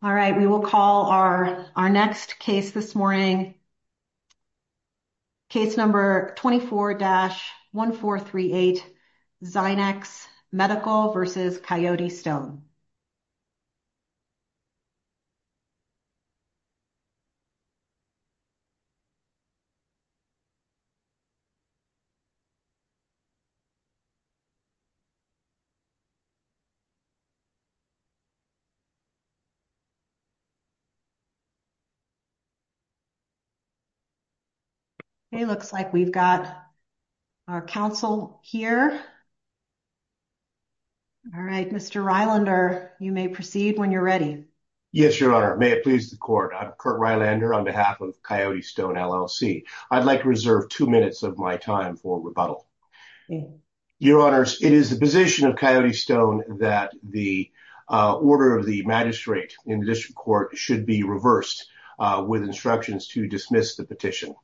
All right, we will call our next case this morning, case number 24-1438 Zynex Medical v. Coyote Stone. Okay, looks like we've got our counsel here. All right, Mr. Rylander, you may proceed when you're ready. Yes, Your Honor. May it please the court, I'm Curt Rylander on behalf of Coyote Stone LLC. I'd like to reserve two minutes of my time for rebuttal. Your Honors, it is the position of Coyote Stone that the order of the magistrate in the district court should be reversed with instructions to dismiss the petition.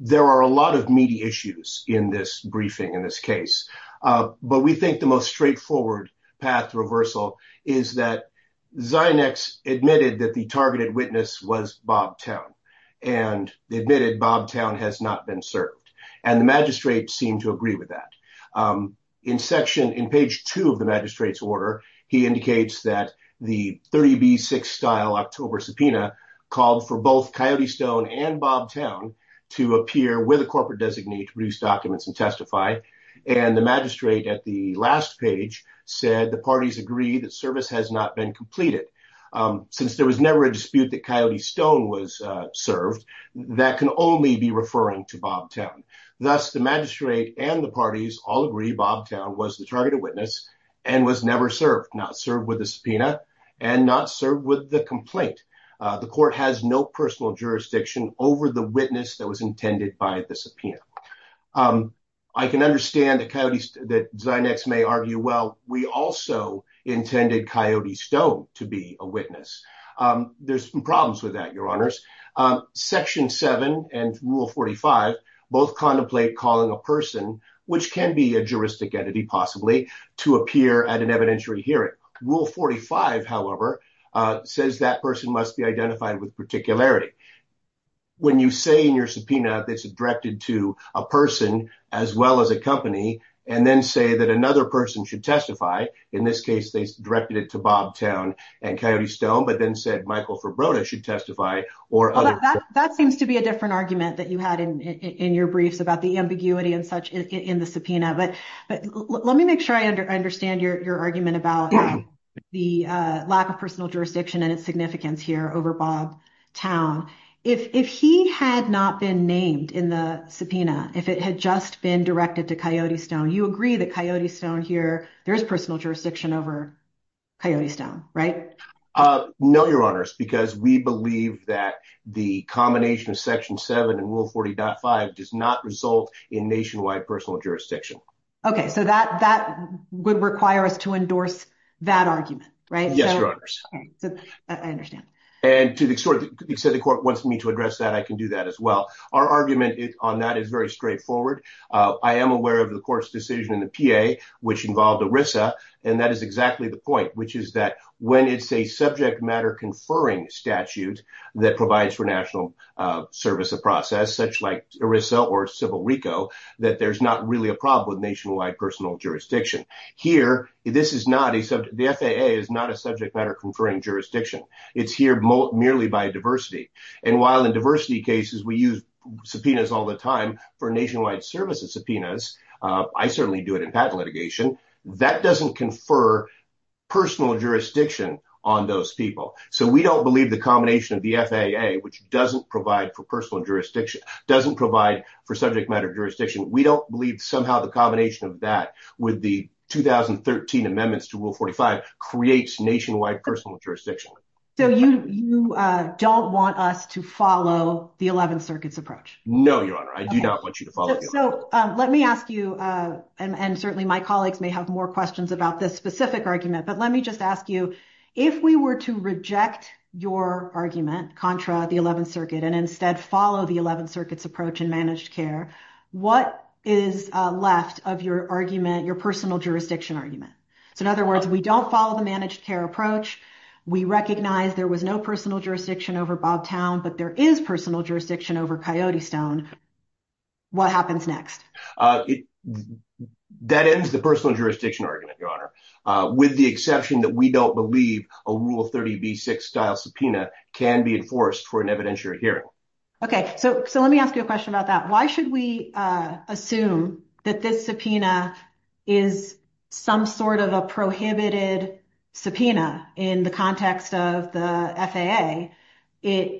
There are a lot of meaty issues in this briefing, in this case, but we think the most straightforward path to reversal is that Zynex admitted that the targeted witness was Bob Town and admitted Bob Town has not been served. And the magistrate seemed to agree with that. In page two of the magistrate's order, he indicates that the 30B6 style October subpoena called for both Coyote Stone and Bob Town to appear with a corporate designee to produce documents and testify. And the magistrate at the last page said the parties agree that service has not been completed. Since there was never a dispute that Coyote Stone was served, that can only be referring to Bob Town. Thus, the magistrate and the parties all agree Bob Town was the targeted witness and was never served, not served with a subpoena and not served with the complaint. The court has no personal jurisdiction over the witness that was intended by the subpoena. I can understand that Zynex may argue, well, we also intended Coyote Stone to be a witness. There's some problems with that, Your Honors. Section seven and rule 45 both contemplate calling a person, which can be a juristic entity possibly, to appear at an evidentiary hearing. Rule 45, however, says that person must be identified with particularity. When you say in your subpoena that's directed to a person as well as a company and then say that another person should testify, in this case, they directed it to Bob Town and Coyote Stone, but then said Michael Fribroda should testify or other. That seems to be a different argument that you had in your briefs about the ambiguity and such in the subpoena. But let me make sure I understand your argument about the lack of personal jurisdiction and its significance here over Bob Town. If he had not been named in the subpoena, if it had just been directed to Coyote Stone, you agree that Coyote Stone here, there's personal jurisdiction over Coyote Stone, right? No, Your Honors, because we believe that the combination of section seven and rule 40.5 does not result in nationwide personal jurisdiction. Okay, so that would require us to endorse that argument, right? Yes, Your Honors. I understand. And to the extent the court wants me to address that, I can do that as well. Our argument on that is very straightforward. I am aware of the court's decision in the PA which involved ERISA, and that is exactly the point, which is that when it's a subject matter conferring statute that provides for national service of process, such like ERISA or civil RICO, that there's not really a problem with nationwide personal jurisdiction. Here, the FAA is not a subject matter conferring jurisdiction. It's here merely by diversity. And while in diversity cases we use subpoenas all the time for nationwide services subpoenas, I certainly do it in patent litigation, that doesn't confer personal jurisdiction on those people. So we don't believe the combination of the FAA, which doesn't provide for personal jurisdiction, doesn't provide for subject matter jurisdiction, we don't believe somehow the combination of that with the 2013 amendments to Rule 45 creates nationwide personal jurisdiction. So you don't want us to follow the Eleventh Circuit's approach? No, Your Honor. I do not want you to follow the Eleventh Circuit. So let me ask you, and certainly my colleagues may have more questions about this specific argument, but let me just ask you, if we were to reject your argument contra the Eleventh Circuit and instead follow the Eleventh Circuit's approach in managed care, what is left of your argument, your personal jurisdiction argument? So in other words, we don't follow the managed care approach. We recognize there was no personal jurisdiction over Bobtown, but there is personal jurisdiction over Coyote Stone. What happens next? That ends the personal jurisdiction argument, Your Honor, with the exception that we don't believe a Rule 30b-6 style subpoena can be enforced for an evidentiary hearing. Okay. So let me ask you a question about that. Why should we assume that this subpoena is some sort of a prohibited subpoena in the context of the FAA? It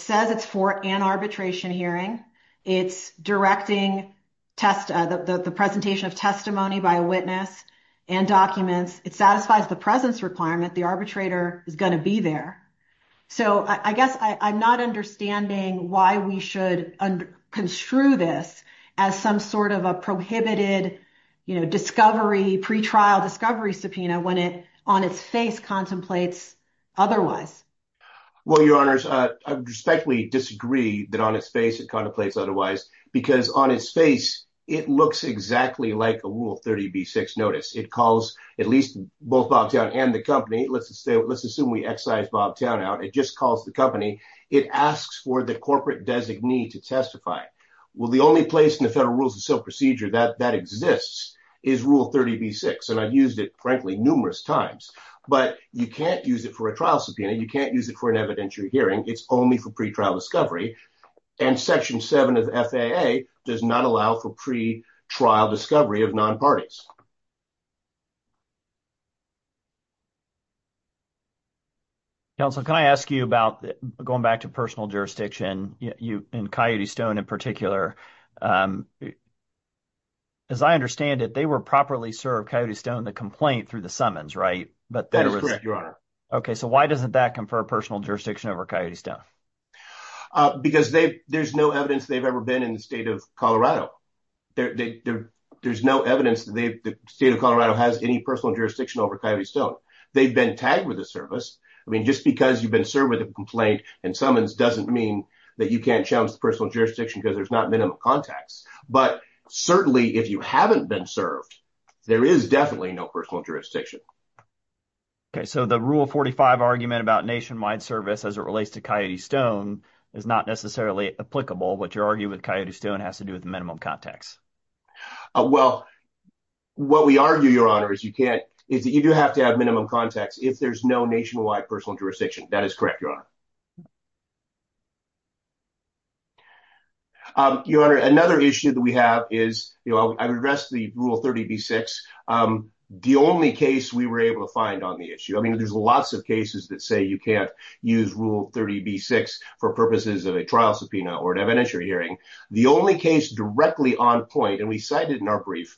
says it's for an arbitration hearing. It's directing the presentation of testimony by a witness and documents. It satisfies the presence requirement. The arbitrator is going to be there. So I guess I'm not understanding why we should construe this as some sort of a prohibited discovery, pretrial discovery subpoena when it on its face contemplates otherwise. Well, Your Honors, I respectfully disagree that on its face it contemplates otherwise, because on its face it looks exactly like a Rule 30b-6 notice. It calls at least both Bobtown and the company. Let's assume we excise Bobtown out. It just calls the company. It asks for the corporate designee to testify. Well, the only place in the Federal Rules of Sale procedure that exists is Rule 30b-6, and I've used it, frankly, numerous times. But you can't use it for a trial subpoena. You can't use it for an evidentiary hearing. It's only for pretrial discovery. And Section 7 of the FAA does not allow for pretrial discovery of nonparties. Counsel, can I ask you about going back to personal jurisdiction, and Coyote Stone in particular? As I understand it, they were properly served, Coyote Stone, the complaint through the summons, right? That is correct, Your Honor. Okay. So why doesn't that confer personal jurisdiction over Coyote Stone? Because there's no evidence they've ever been in the state of Colorado. There's no evidence the state of Colorado has any personal jurisdiction over Coyote Stone. They've been tagged with the service. I mean, just because you've been served with a complaint and summons doesn't mean that you can't challenge the personal jurisdiction because there's not minimum contacts. But certainly if you haven't been served, there is definitely no personal jurisdiction. Okay. So the Rule 45 argument about nationwide service as it relates to Coyote Stone is not necessarily applicable. What you're arguing with Coyote Stone has to do with minimum contacts. Well, what we argue, Your Honor, is you do have to have minimum contacts if there's no nationwide personal jurisdiction. That is correct, Your Honor. Your Honor, another issue that we have is, you know, I've addressed the Rule 30b-6. The only case we were able to find on the issue, I mean, there's lots of cases that say you can't use Rule 30b-6 for purposes of a trial subpoena or an evidentiary hearing. The only case directly on point, and we cited in our brief,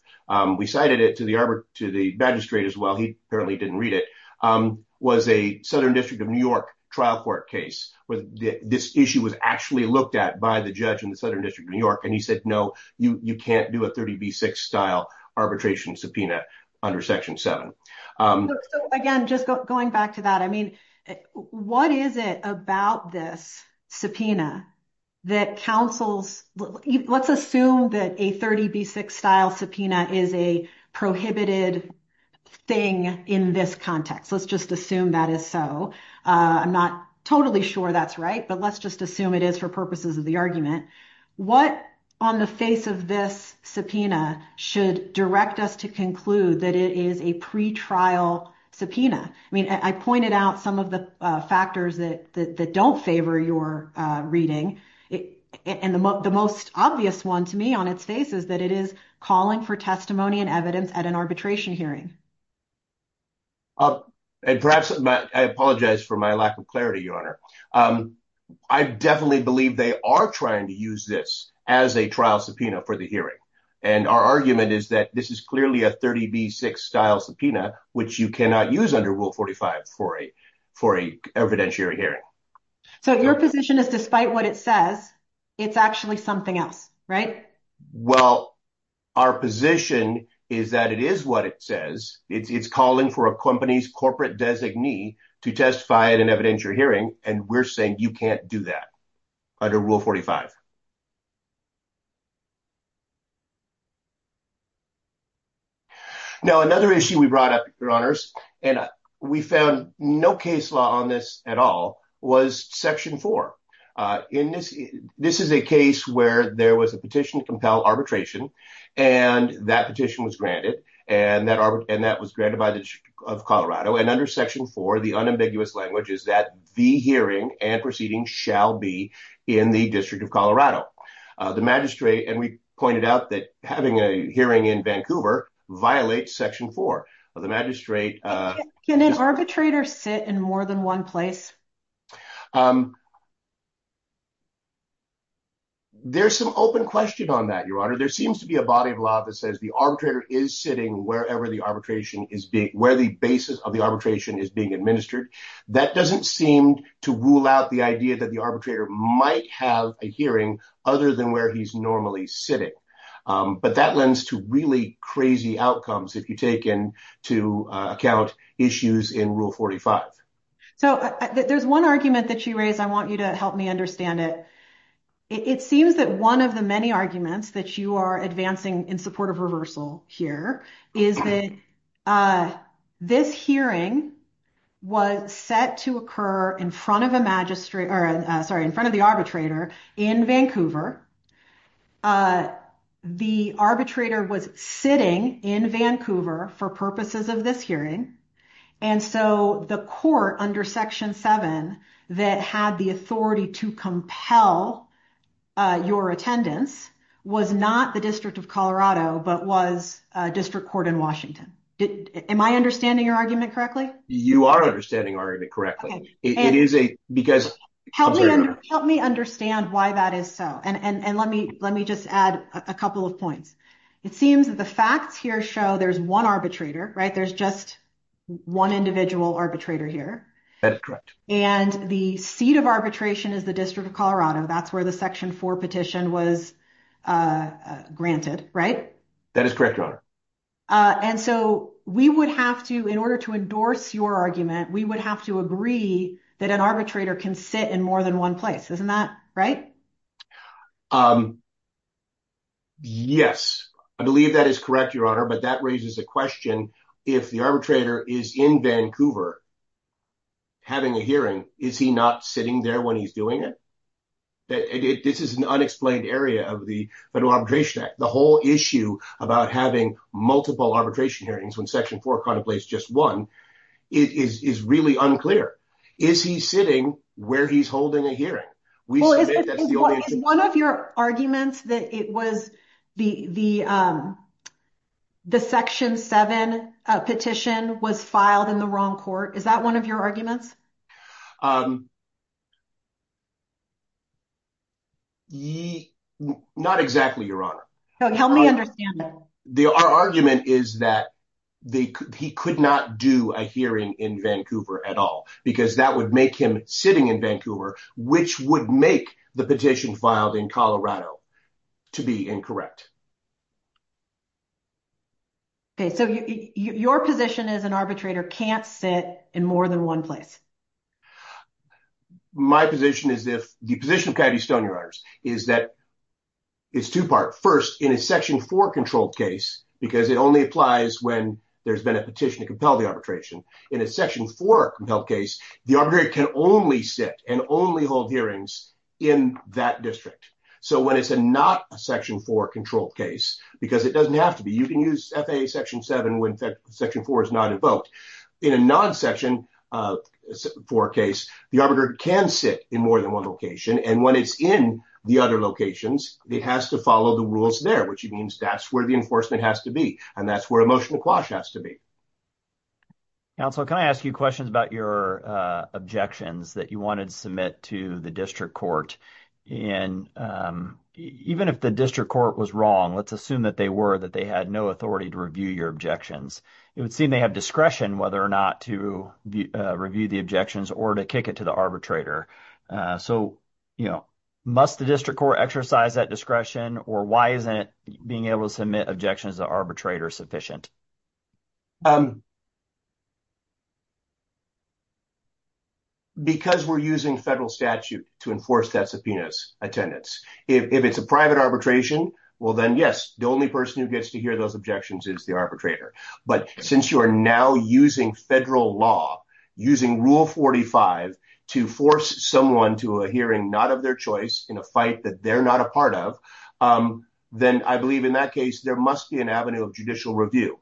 we cited it to the magistrate as well. He apparently didn't read it, was a Southern District of New York trial court case. This issue was actually looked at by the judge in the Southern District of New York, and he said, no, you can't do a 30b-6 style arbitration subpoena under Section 7. So, again, just going back to that, I mean, what is it about this subpoena that counsels, let's assume that a 30b-6 style subpoena is a prohibited thing in this context. Let's just assume that is so. I'm not totally sure that's right, but let's just assume it is for purposes of the argument. What on the face of this subpoena should direct us to conclude that it is a pretrial subpoena? I mean, I pointed out some of the factors that don't favor your reading, and the most obvious one to me on its face is that it is calling for testimony and evidence at an arbitration hearing. Perhaps I apologize for my lack of clarity, Your Honor. I definitely believe they are trying to use this as a trial subpoena for the hearing, and our argument is that this is clearly a 30b-6 style subpoena, which you cannot use under Rule 45 for an evidentiary hearing. So your position is despite what it says, it's actually something else, right? Well, our position is that it is what it says. It's calling for a company's corporate designee to testify at an evidentiary hearing, and we're saying you can't do that under Rule 45. Now, another issue we brought up, Your Honors, and we found no case law on this at all, was Section 4. This is a case where there was a petition to compel arbitration, and that petition was granted, and that was granted by the District of Colorado, and under Section 4, the unambiguous language is that the hearing and proceeding shall be in the District of Colorado. The magistrate, and we pointed out that having a hearing in Vancouver violates Section 4. The magistrate— Can an arbitrator sit in more than one place? There's some open question on that, Your Honor. There seems to be a body of law that says the arbitrator is sitting wherever the arbitration is being— where the basis of the arbitration is being administered. That doesn't seem to rule out the idea that the arbitrator might have a hearing other than where he's normally sitting, but that lends to really crazy outcomes if you take into account issues in Rule 45. So there's one argument that you raised. I want you to help me understand it. It seems that one of the many arguments that you are advancing in support of reversal here is that this hearing was set to occur in front of a magistrate— or, sorry, in front of the arbitrator in Vancouver. The arbitrator was sitting in Vancouver for purposes of this hearing, and so the court under Section 7 that had the authority to compel your attendance was not the District of Colorado but was District Court in Washington. Am I understanding your argument correctly? You are understanding our argument correctly. It is a—because— Help me understand why that is so, and let me just add a couple of points. It seems that the facts here show there's one arbitrator, right? There's just one individual arbitrator here. And the seat of arbitration is the District of Colorado. That's where the Section 4 petition was granted, right? That is correct, Your Honor. And so we would have to—in order to endorse your argument, we would have to agree that an arbitrator can sit in more than one place. Isn't that right? Yes. I believe that is correct, Your Honor, but that raises a question. If the arbitrator is in Vancouver having a hearing, is he not sitting there when he's doing it? This is an unexplained area of the Federal Arbitration Act. The whole issue about having multiple arbitration hearings when Section 4 contemplates just one is really unclear. Is he sitting where he's holding a hearing? Is one of your arguments that it was the Section 7 petition was filed in the wrong court, is that one of your arguments? Not exactly, Your Honor. Help me understand that. Our argument is that he could not do a hearing in Vancouver at all because that would make him sitting in Vancouver, which would make the petition filed in Colorado to be incorrect. So your position is an arbitrator can't sit in more than one place. My position is if—the position of Coyote Stone, Your Honor, is that it's two-part. First, in a Section 4 controlled case, because it only applies when there's been a petition to compel the arbitration, in a Section 4 compelled case, the arbitrator can only sit and only hold hearings in that district. So when it's not a Section 4 controlled case, because it doesn't have to be. You can use FAA Section 7 when Section 4 is not invoked. In a non-Section 4 case, the arbitrator can sit in more than one location, and when it's in the other locations, it has to follow the rules there, which means that's where the enforcement has to be, and that's where emotional quash has to be. Counsel, can I ask you questions about your objections that you wanted to submit to the district court? And even if the district court was wrong, let's assume that they were, that they had no authority to review your objections, it would seem they have discretion whether or not to review the objections or to kick it to the arbitrator. So, you know, must the district court exercise that discretion, or why isn't being able to submit objections to the arbitrator sufficient? Because we're using federal statute to enforce that subpoena's attendance. If it's a private arbitration, well then, yes, the only person who gets to hear those objections is the arbitrator. But since you are now using federal law, using Rule 45 to force someone to a hearing not of their choice in a fight that they're not a part of, then I believe in that case there must be an avenue of judicial review.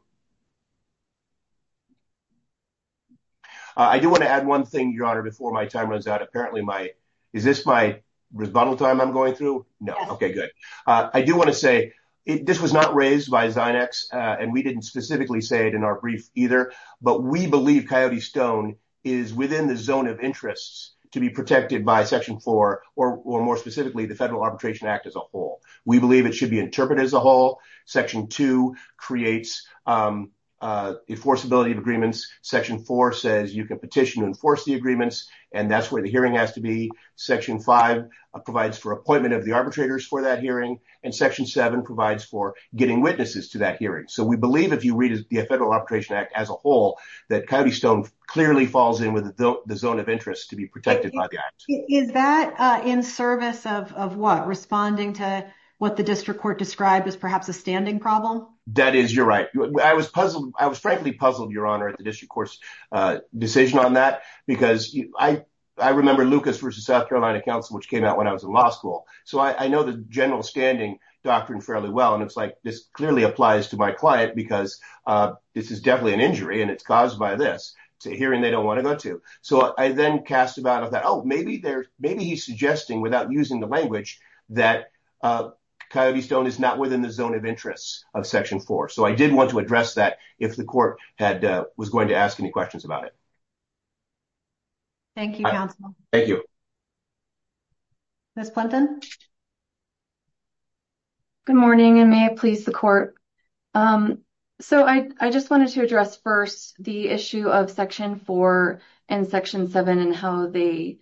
I do want to add one thing, Your Honor, before my time runs out. Apparently my, is this my rebuttal time I'm going through? No, okay, good. I do want to say, this was not raised by Zinex, and we didn't specifically say it in our brief either, but we believe Coyote Stone is within the zone of interests to be protected by Section 4, or more specifically, the Federal Arbitration Act as a whole. We believe it should be interpreted as a whole. Section 2 creates enforceability of agreements. Section 4 says you can petition to enforce the agreements, and that's where the hearing has to be. Section 5 provides for appointment of the arbitrators for that hearing, and Section 7 provides for getting witnesses to that hearing. So we believe if you read the Federal Arbitration Act as a whole, that Coyote Stone clearly falls in with the zone of interest to be protected by the act. Is that in service of what, responding to what the district court described as perhaps a standing problem? That is, you're right. I was puzzled, I was frankly puzzled, Your Honor, at the district court's decision on that, because I remember Lucas v. South Carolina Council, which came out when I was in law school. So I know the general standing doctrine fairly well, and it's like this clearly applies to my client, because this is definitely an injury, and it's caused by this. It's a hearing they don't want to go to. So I then cast about, oh, maybe he's suggesting, without using the language, that Coyote Stone is not within the zone of interest of Section 4. So I did want to address that if the court was going to ask any questions about it. Thank you, counsel. Thank you. Ms. Plunton? Good morning, and may it please the court. So I just wanted to address first the issue of Section 4 and Section 7 and how the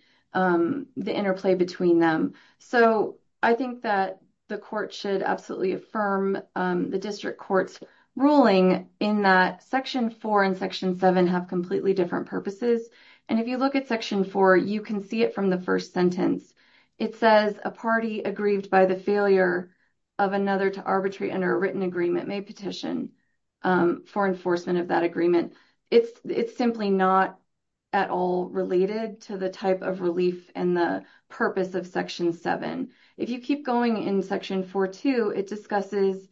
interplay between them. So I think that the court should absolutely affirm the district court's ruling in that Section 4 and Section 7 have completely different purposes. And if you look at Section 4, you can see it from the first sentence. It says, a party aggrieved by the failure of another to arbitrate under a written agreement may petition for enforcement of that agreement. It's simply not at all related to the type of relief and the purpose of Section 7. If you keep going in Section 4.2, it discusses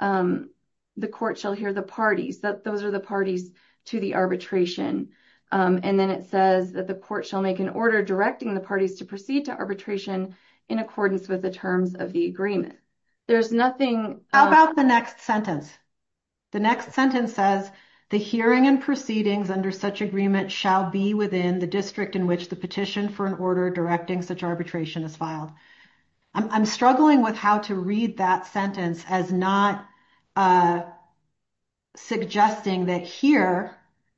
the court shall hear the parties, that those are the parties to the arbitration. And then it says that the court shall make an order directing the parties to proceed to arbitration in accordance with the terms of the agreement. There's nothing. How about the next sentence? The next sentence says, the hearing and proceedings under such agreement shall be within the district in which the petition for an order directing such arbitration is filed. I'm struggling with how to read that sentence as not suggesting that here,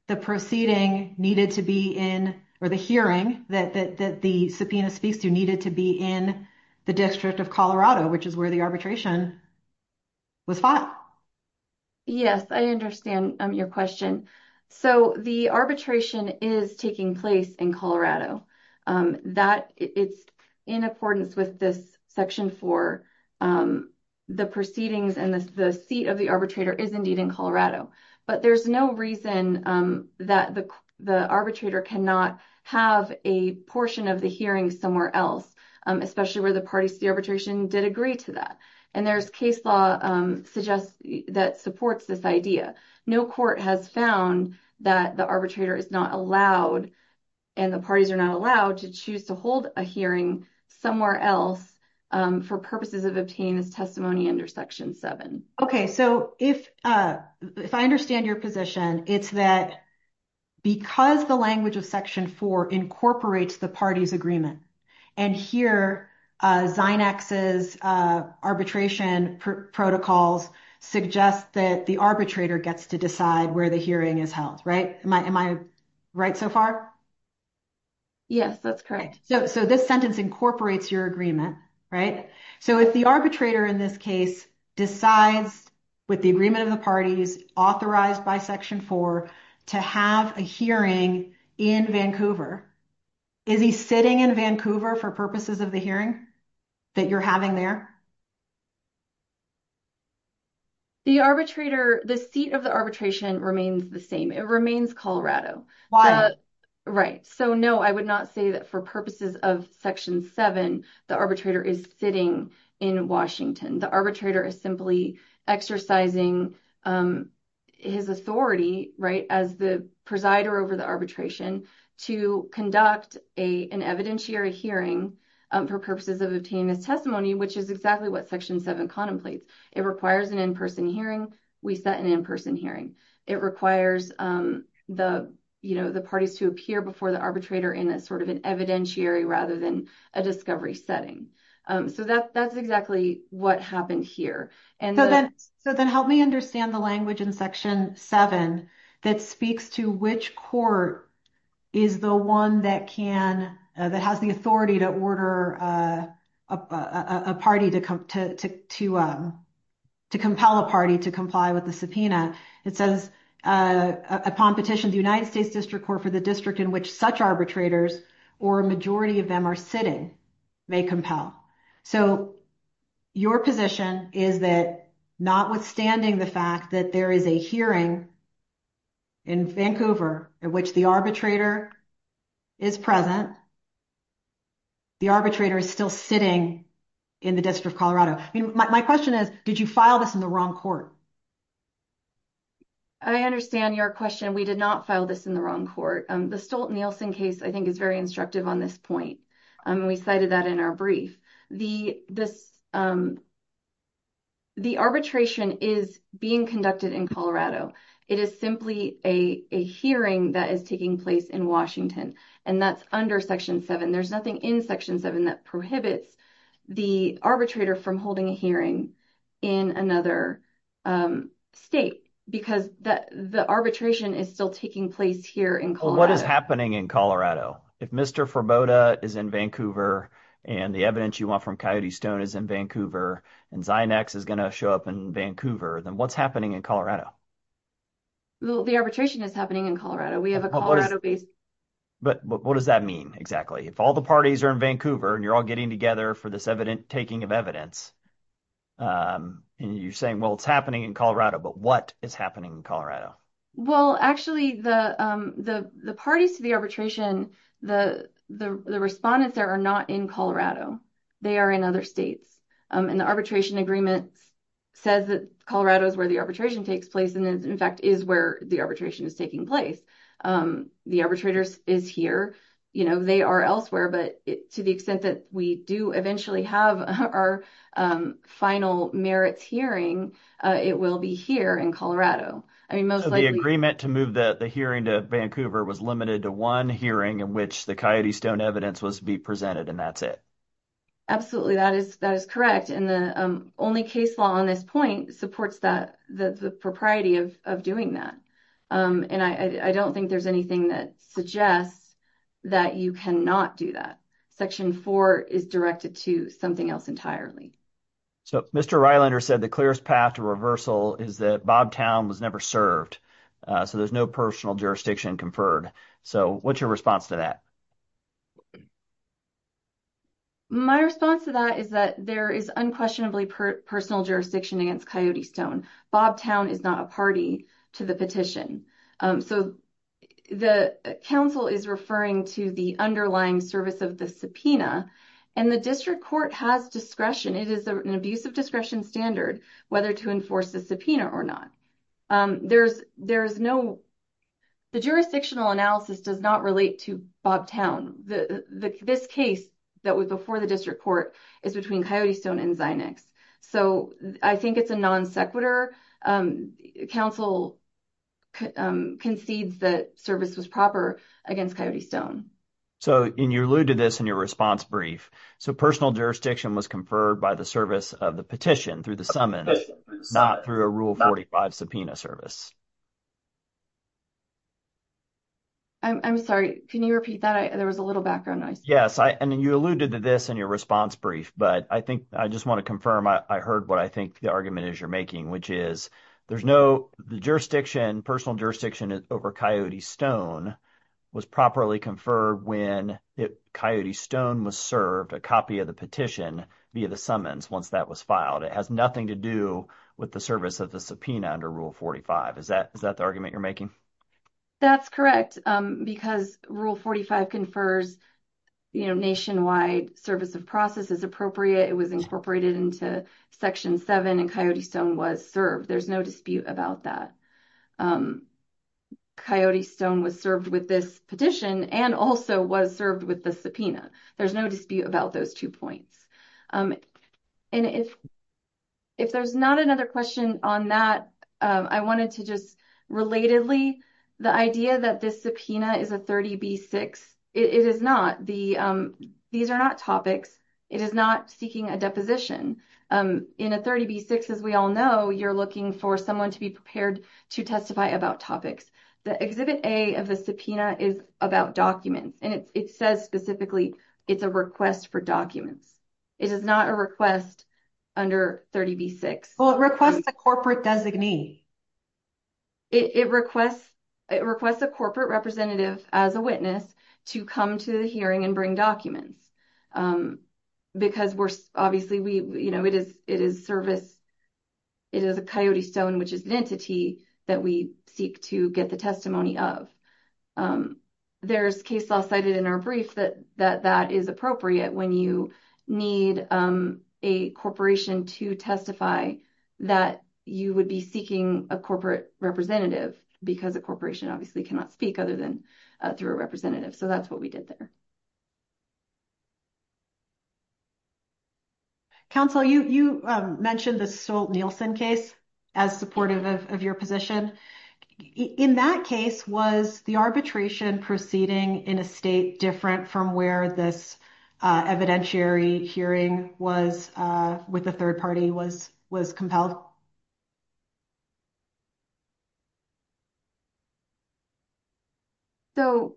the proceeding needed to be in or the hearing that the subpoena speaks to needed to be in the District of Colorado, which is where the arbitration was filed. Yes, I understand your question. So the arbitration is taking place in Colorado. It's in accordance with this Section 4. The proceedings and the seat of the arbitrator is indeed in Colorado. But there's no reason that the arbitrator cannot have a portion of the hearing somewhere else, especially where the parties to the arbitration did agree to that. And there's case law that supports this idea. No court has found that the arbitrator is not allowed and the parties are not allowed to choose to hold a hearing somewhere else for purposes of obtaining this testimony under Section 7. Okay. So if I understand your position, it's that because the language of Section 4 incorporates the parties' agreement, and here Zinex's arbitration protocols suggest that the arbitrator gets to decide where the hearing is held, right? Am I right so far? Yes, that's correct. So this sentence incorporates your agreement, right? So if the arbitrator in this case decides with the agreement of the parties authorized by Section 4 to have a hearing in Vancouver, is he sitting in Vancouver for purposes of the hearing that you're having there? The arbitrator, the seat of the arbitration remains the same. It remains Colorado. Why? Right. So, no, I would not say that for purposes of Section 7, the arbitrator is sitting in Washington. The arbitrator is simply exercising his authority, right, as the presider over the arbitration to conduct an evidentiary hearing for purposes of obtaining his testimony, which is exactly what Section 7 contemplates. It requires an in-person hearing. We set an in-person hearing. It requires the parties to appear before the arbitrator in a sort of an evidentiary rather than a discovery setting. So that's exactly what happened here. So then help me understand the language in Section 7 that speaks to which court is the one that can, that has the authority to order a party to compel a party to comply with the I mean, it says, upon petition, the United States District Court for the district in which such arbitrators or a majority of them are sitting may compel. So your position is that notwithstanding the fact that there is a hearing in Vancouver in which the arbitrator is present, the arbitrator is still sitting in the District of Colorado. My question is, did you file this in the wrong court? I understand your question. We did not file this in the wrong court. The Stolt-Nielsen case I think is very instructive on this point. We cited that in our brief. The arbitration is being conducted in Colorado. It is simply a hearing that is taking place in Washington, and that's under Section 7. There's nothing in Section 7 that prohibits the arbitrator from holding a hearing in another state, because the arbitration is still taking place here in Colorado. What is happening in Colorado? If Mr. Furboda is in Vancouver, and the evidence you want from Coyote Stone is in Vancouver, and Zynex is going to show up in Vancouver, then what's happening in Colorado? The arbitration is happening in Colorado. We have a Colorado-based… What does that mean exactly? If all the parties are in Vancouver, and you're all getting together for this taking of evidence, and you're saying, well, it's happening in Colorado, but what is happening in Colorado? Actually, the parties to the arbitration, the respondents there are not in Colorado. They are in other states. The arbitration agreement says that Colorado is where the arbitration takes place, and in fact is where the arbitration is taking place. The arbitrator is here. They are elsewhere, but to the extent that we do eventually have our final merits hearing, it will be here in Colorado. The agreement to move the hearing to Vancouver was limited to one hearing in which the Coyote Stone evidence was to be presented, and that's it? Absolutely, that is correct. The only case law on this point supports the propriety of doing that. I don't think there's anything that suggests that you cannot do that. Section 4 is directed to something else entirely. Mr. Reilander said the clearest path to reversal is that Bobtown was never served, so there's no personal jurisdiction conferred. What's your response to that? My response to that is that there is unquestionably personal jurisdiction against Coyote Stone. Bobtown is not a party to the petition. The counsel is referring to the underlying service of the subpoena, and the district court has discretion. It is an abuse of discretion standard whether to enforce the subpoena or not. The jurisdictional analysis does not relate to Bobtown. This case that was before the district court is between Coyote Stone and Phoenix, so I think it's a non-sequitur. Counsel concedes that service was proper against Coyote Stone. You alluded to this in your response brief. Personal jurisdiction was conferred by the service of the petition through the summons, not through a Rule 45 subpoena service. I'm sorry, can you repeat that? There was a little background noise. You alluded to this in your response brief, but I think I just want to confirm I heard what I think the argument is you're making, which is there's no jurisdiction, personal jurisdiction over Coyote Stone was properly conferred when Coyote Stone was served a copy of the petition via the summons once that was filed. It has nothing to do with the service of the subpoena under Rule 45. Is that the argument you're making? That's correct, because Rule 45 confers nationwide service of process is incorporated into Section 7 and Coyote Stone was served. There's no dispute about that. Coyote Stone was served with this petition and also was served with the There's no dispute about those two points. And if there's not another question on that, I wanted to just relatedly, the idea that this subpoena is a 30B6, it is not. These are not topics. It is not seeking a deposition. In a 30B6, as we all know, you're looking for someone to be prepared to testify about topics. The Exhibit A of the subpoena is about documents, and it says specifically it's a request for documents. It is not a request under 30B6. Well, it requests a corporate designee. It requests a corporate representative as a witness to come to the hearing and bring documents. Because, obviously, it is a Coyote Stone, which is an entity that we seek to get the testimony of. There's case law cited in our brief that that is appropriate when you need a corporation to testify that you would be seeking a corporate representative because a corporation obviously cannot speak other than through a So that's what we did there. Counsel, you mentioned the Stolt-Nielsen case as supportive of your position. In that case, was the arbitration proceeding in a state different from where this evidentiary hearing was with the third party was compelled? So,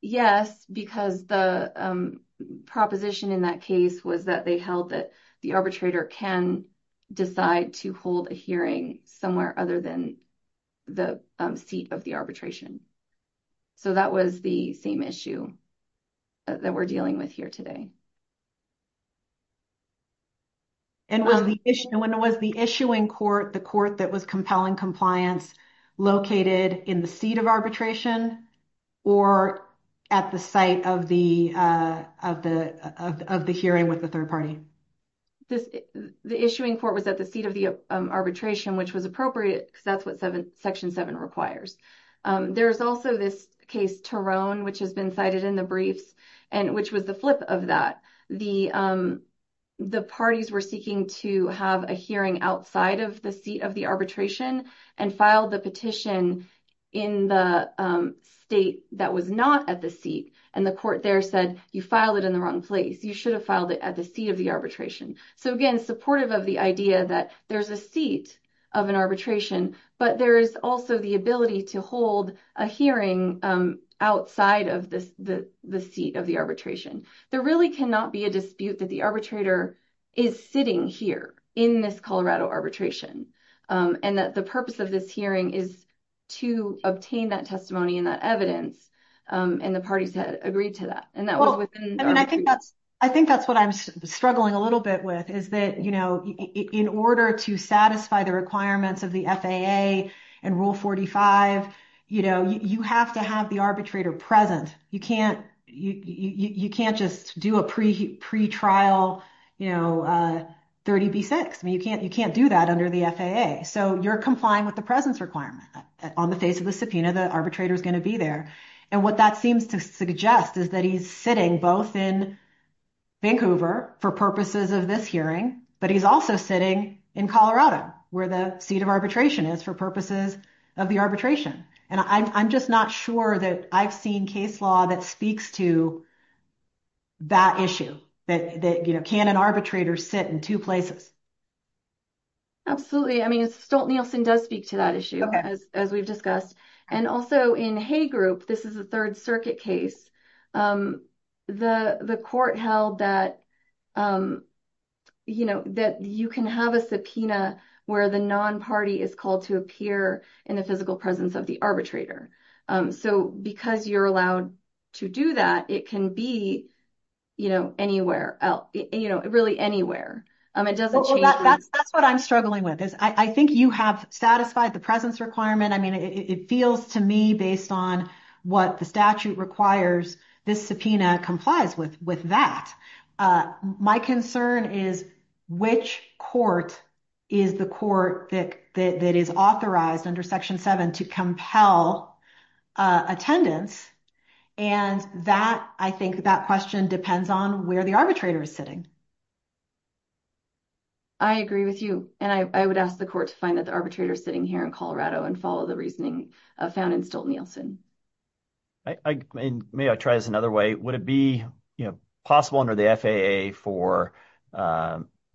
yes, because the proposition in that case was that they held that the arbitrator can decide to hold a hearing somewhere other than the seat of the arbitration. So that was the same issue that we're dealing with here today. And was the issuing court, the court that was compelling compliance, located in the seat of arbitration or at the site of the hearing with the third party? The issuing court was at the seat of the arbitration, which was appropriate because that's what Section 7 requires. There's also this case, Tarone, which has been cited in the briefs, which was the flip of that. The parties were seeking to have a hearing outside of the seat of the arbitration and filed the petition in the state that was not at the seat. And the court there said, you filed it in the wrong place. You should have filed it at the seat of the arbitration. So, again, supportive of the idea that there's a seat of an arbitration, but there is also the ability to hold a hearing outside of the seat of the arbitration. There really cannot be a dispute that the arbitrator is sitting here in this Colorado arbitration and that the purpose of this hearing is to obtain that testimony and that evidence. And the parties had agreed to that. I think that's what I'm struggling a little bit with is that, you know, in order to satisfy the requirements of the FAA and Rule 45, you know, you have to have the arbitrator present. You can't just do a pretrial, you know, 30B6. I mean, you can't do that under the FAA. So you're complying with the presence requirement. On the face of the subpoena, the arbitrator is going to be there. And what that seems to suggest is that he's sitting both in Vancouver for purposes of this hearing, but he's also sitting in Colorado where the seat of arbitration is for purposes of the arbitration. And I'm just not sure that I've seen case law that speaks to that issue, that, you know, can an arbitrator sit in two places? Absolutely. I mean, Stolt-Nielsen does speak to that issue, as we've discussed. And also in Hay Group, this is a Third Circuit case, the court held that, you know, that you can have a subpoena where the non-party is called to appear in the physical presence of the arbitrator. So because you're allowed to do that, it can be, you know, anywhere else, you know, really anywhere. It doesn't change. That's what I'm struggling with, is I think you have satisfied the presence requirement. I mean, it feels to me, based on what the statute requires, this subpoena complies with that. My concern is which court is the court that is authorized under Section 7 to compel attendance? And that, I think that question depends on where the arbitrator is sitting. I agree with you. And I would ask the court to find that the arbitrator is sitting here in Colorado and follow the reasoning found in Stolt-Nielsen. May I try this another way? Would it be, you know, possible under the FAA for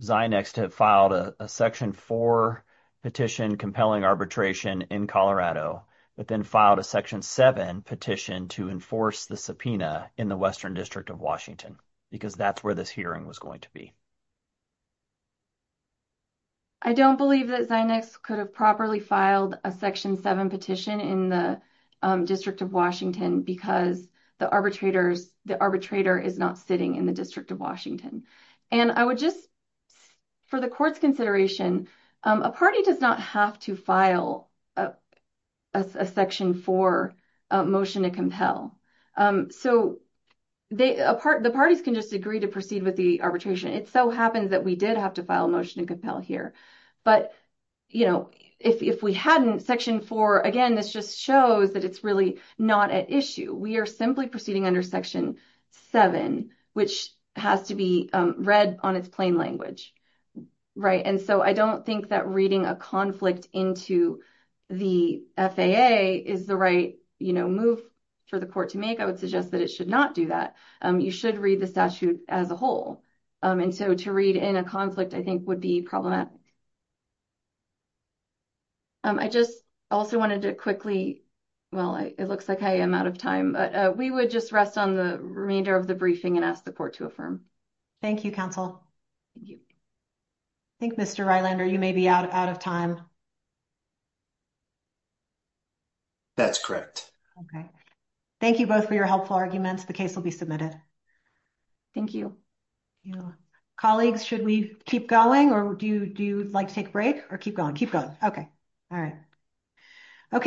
Zinex to have filed a Section 4 petition compelling arbitration in Colorado, but then filed a Section 7 petition to enforce the subpoena in the Western District of Washington? Because that's where this hearing was going to be. I don't believe that Zinex could have properly filed a Section 7 petition in the District of Washington because the arbitrator is not sitting in the District of Washington. And I would just, for the court's consideration, a party does not have to file a Section 4 motion to compel. So, the parties can just agree to proceed with the arbitration. It so happens that we did have to file a motion to compel here. But, you know, if we hadn't, Section 4, again, this just shows that it's really not at issue. We are simply proceeding under Section 7, which has to be read on its plain language, right? And so, I don't think that reading a conflict into the FAA is the right, you know, move for the court to make. I would suggest that it should not do that. You should read the statute as a whole. And so, to read in a conflict, I think, would be problematic. I just also wanted to quickly, well, it looks like I am out of time, but we would just rest on the remainder of the briefing and ask the court to affirm. Thank you, counsel. Thank you. I think, Mr. Rylander, you may be out of time. That's correct. Okay. Thank you both for your helpful arguments. The case will be submitted. Thank you. Colleagues, should we keep going or do you like to take a break or keep going? Keep going. Okay. All right. Okay.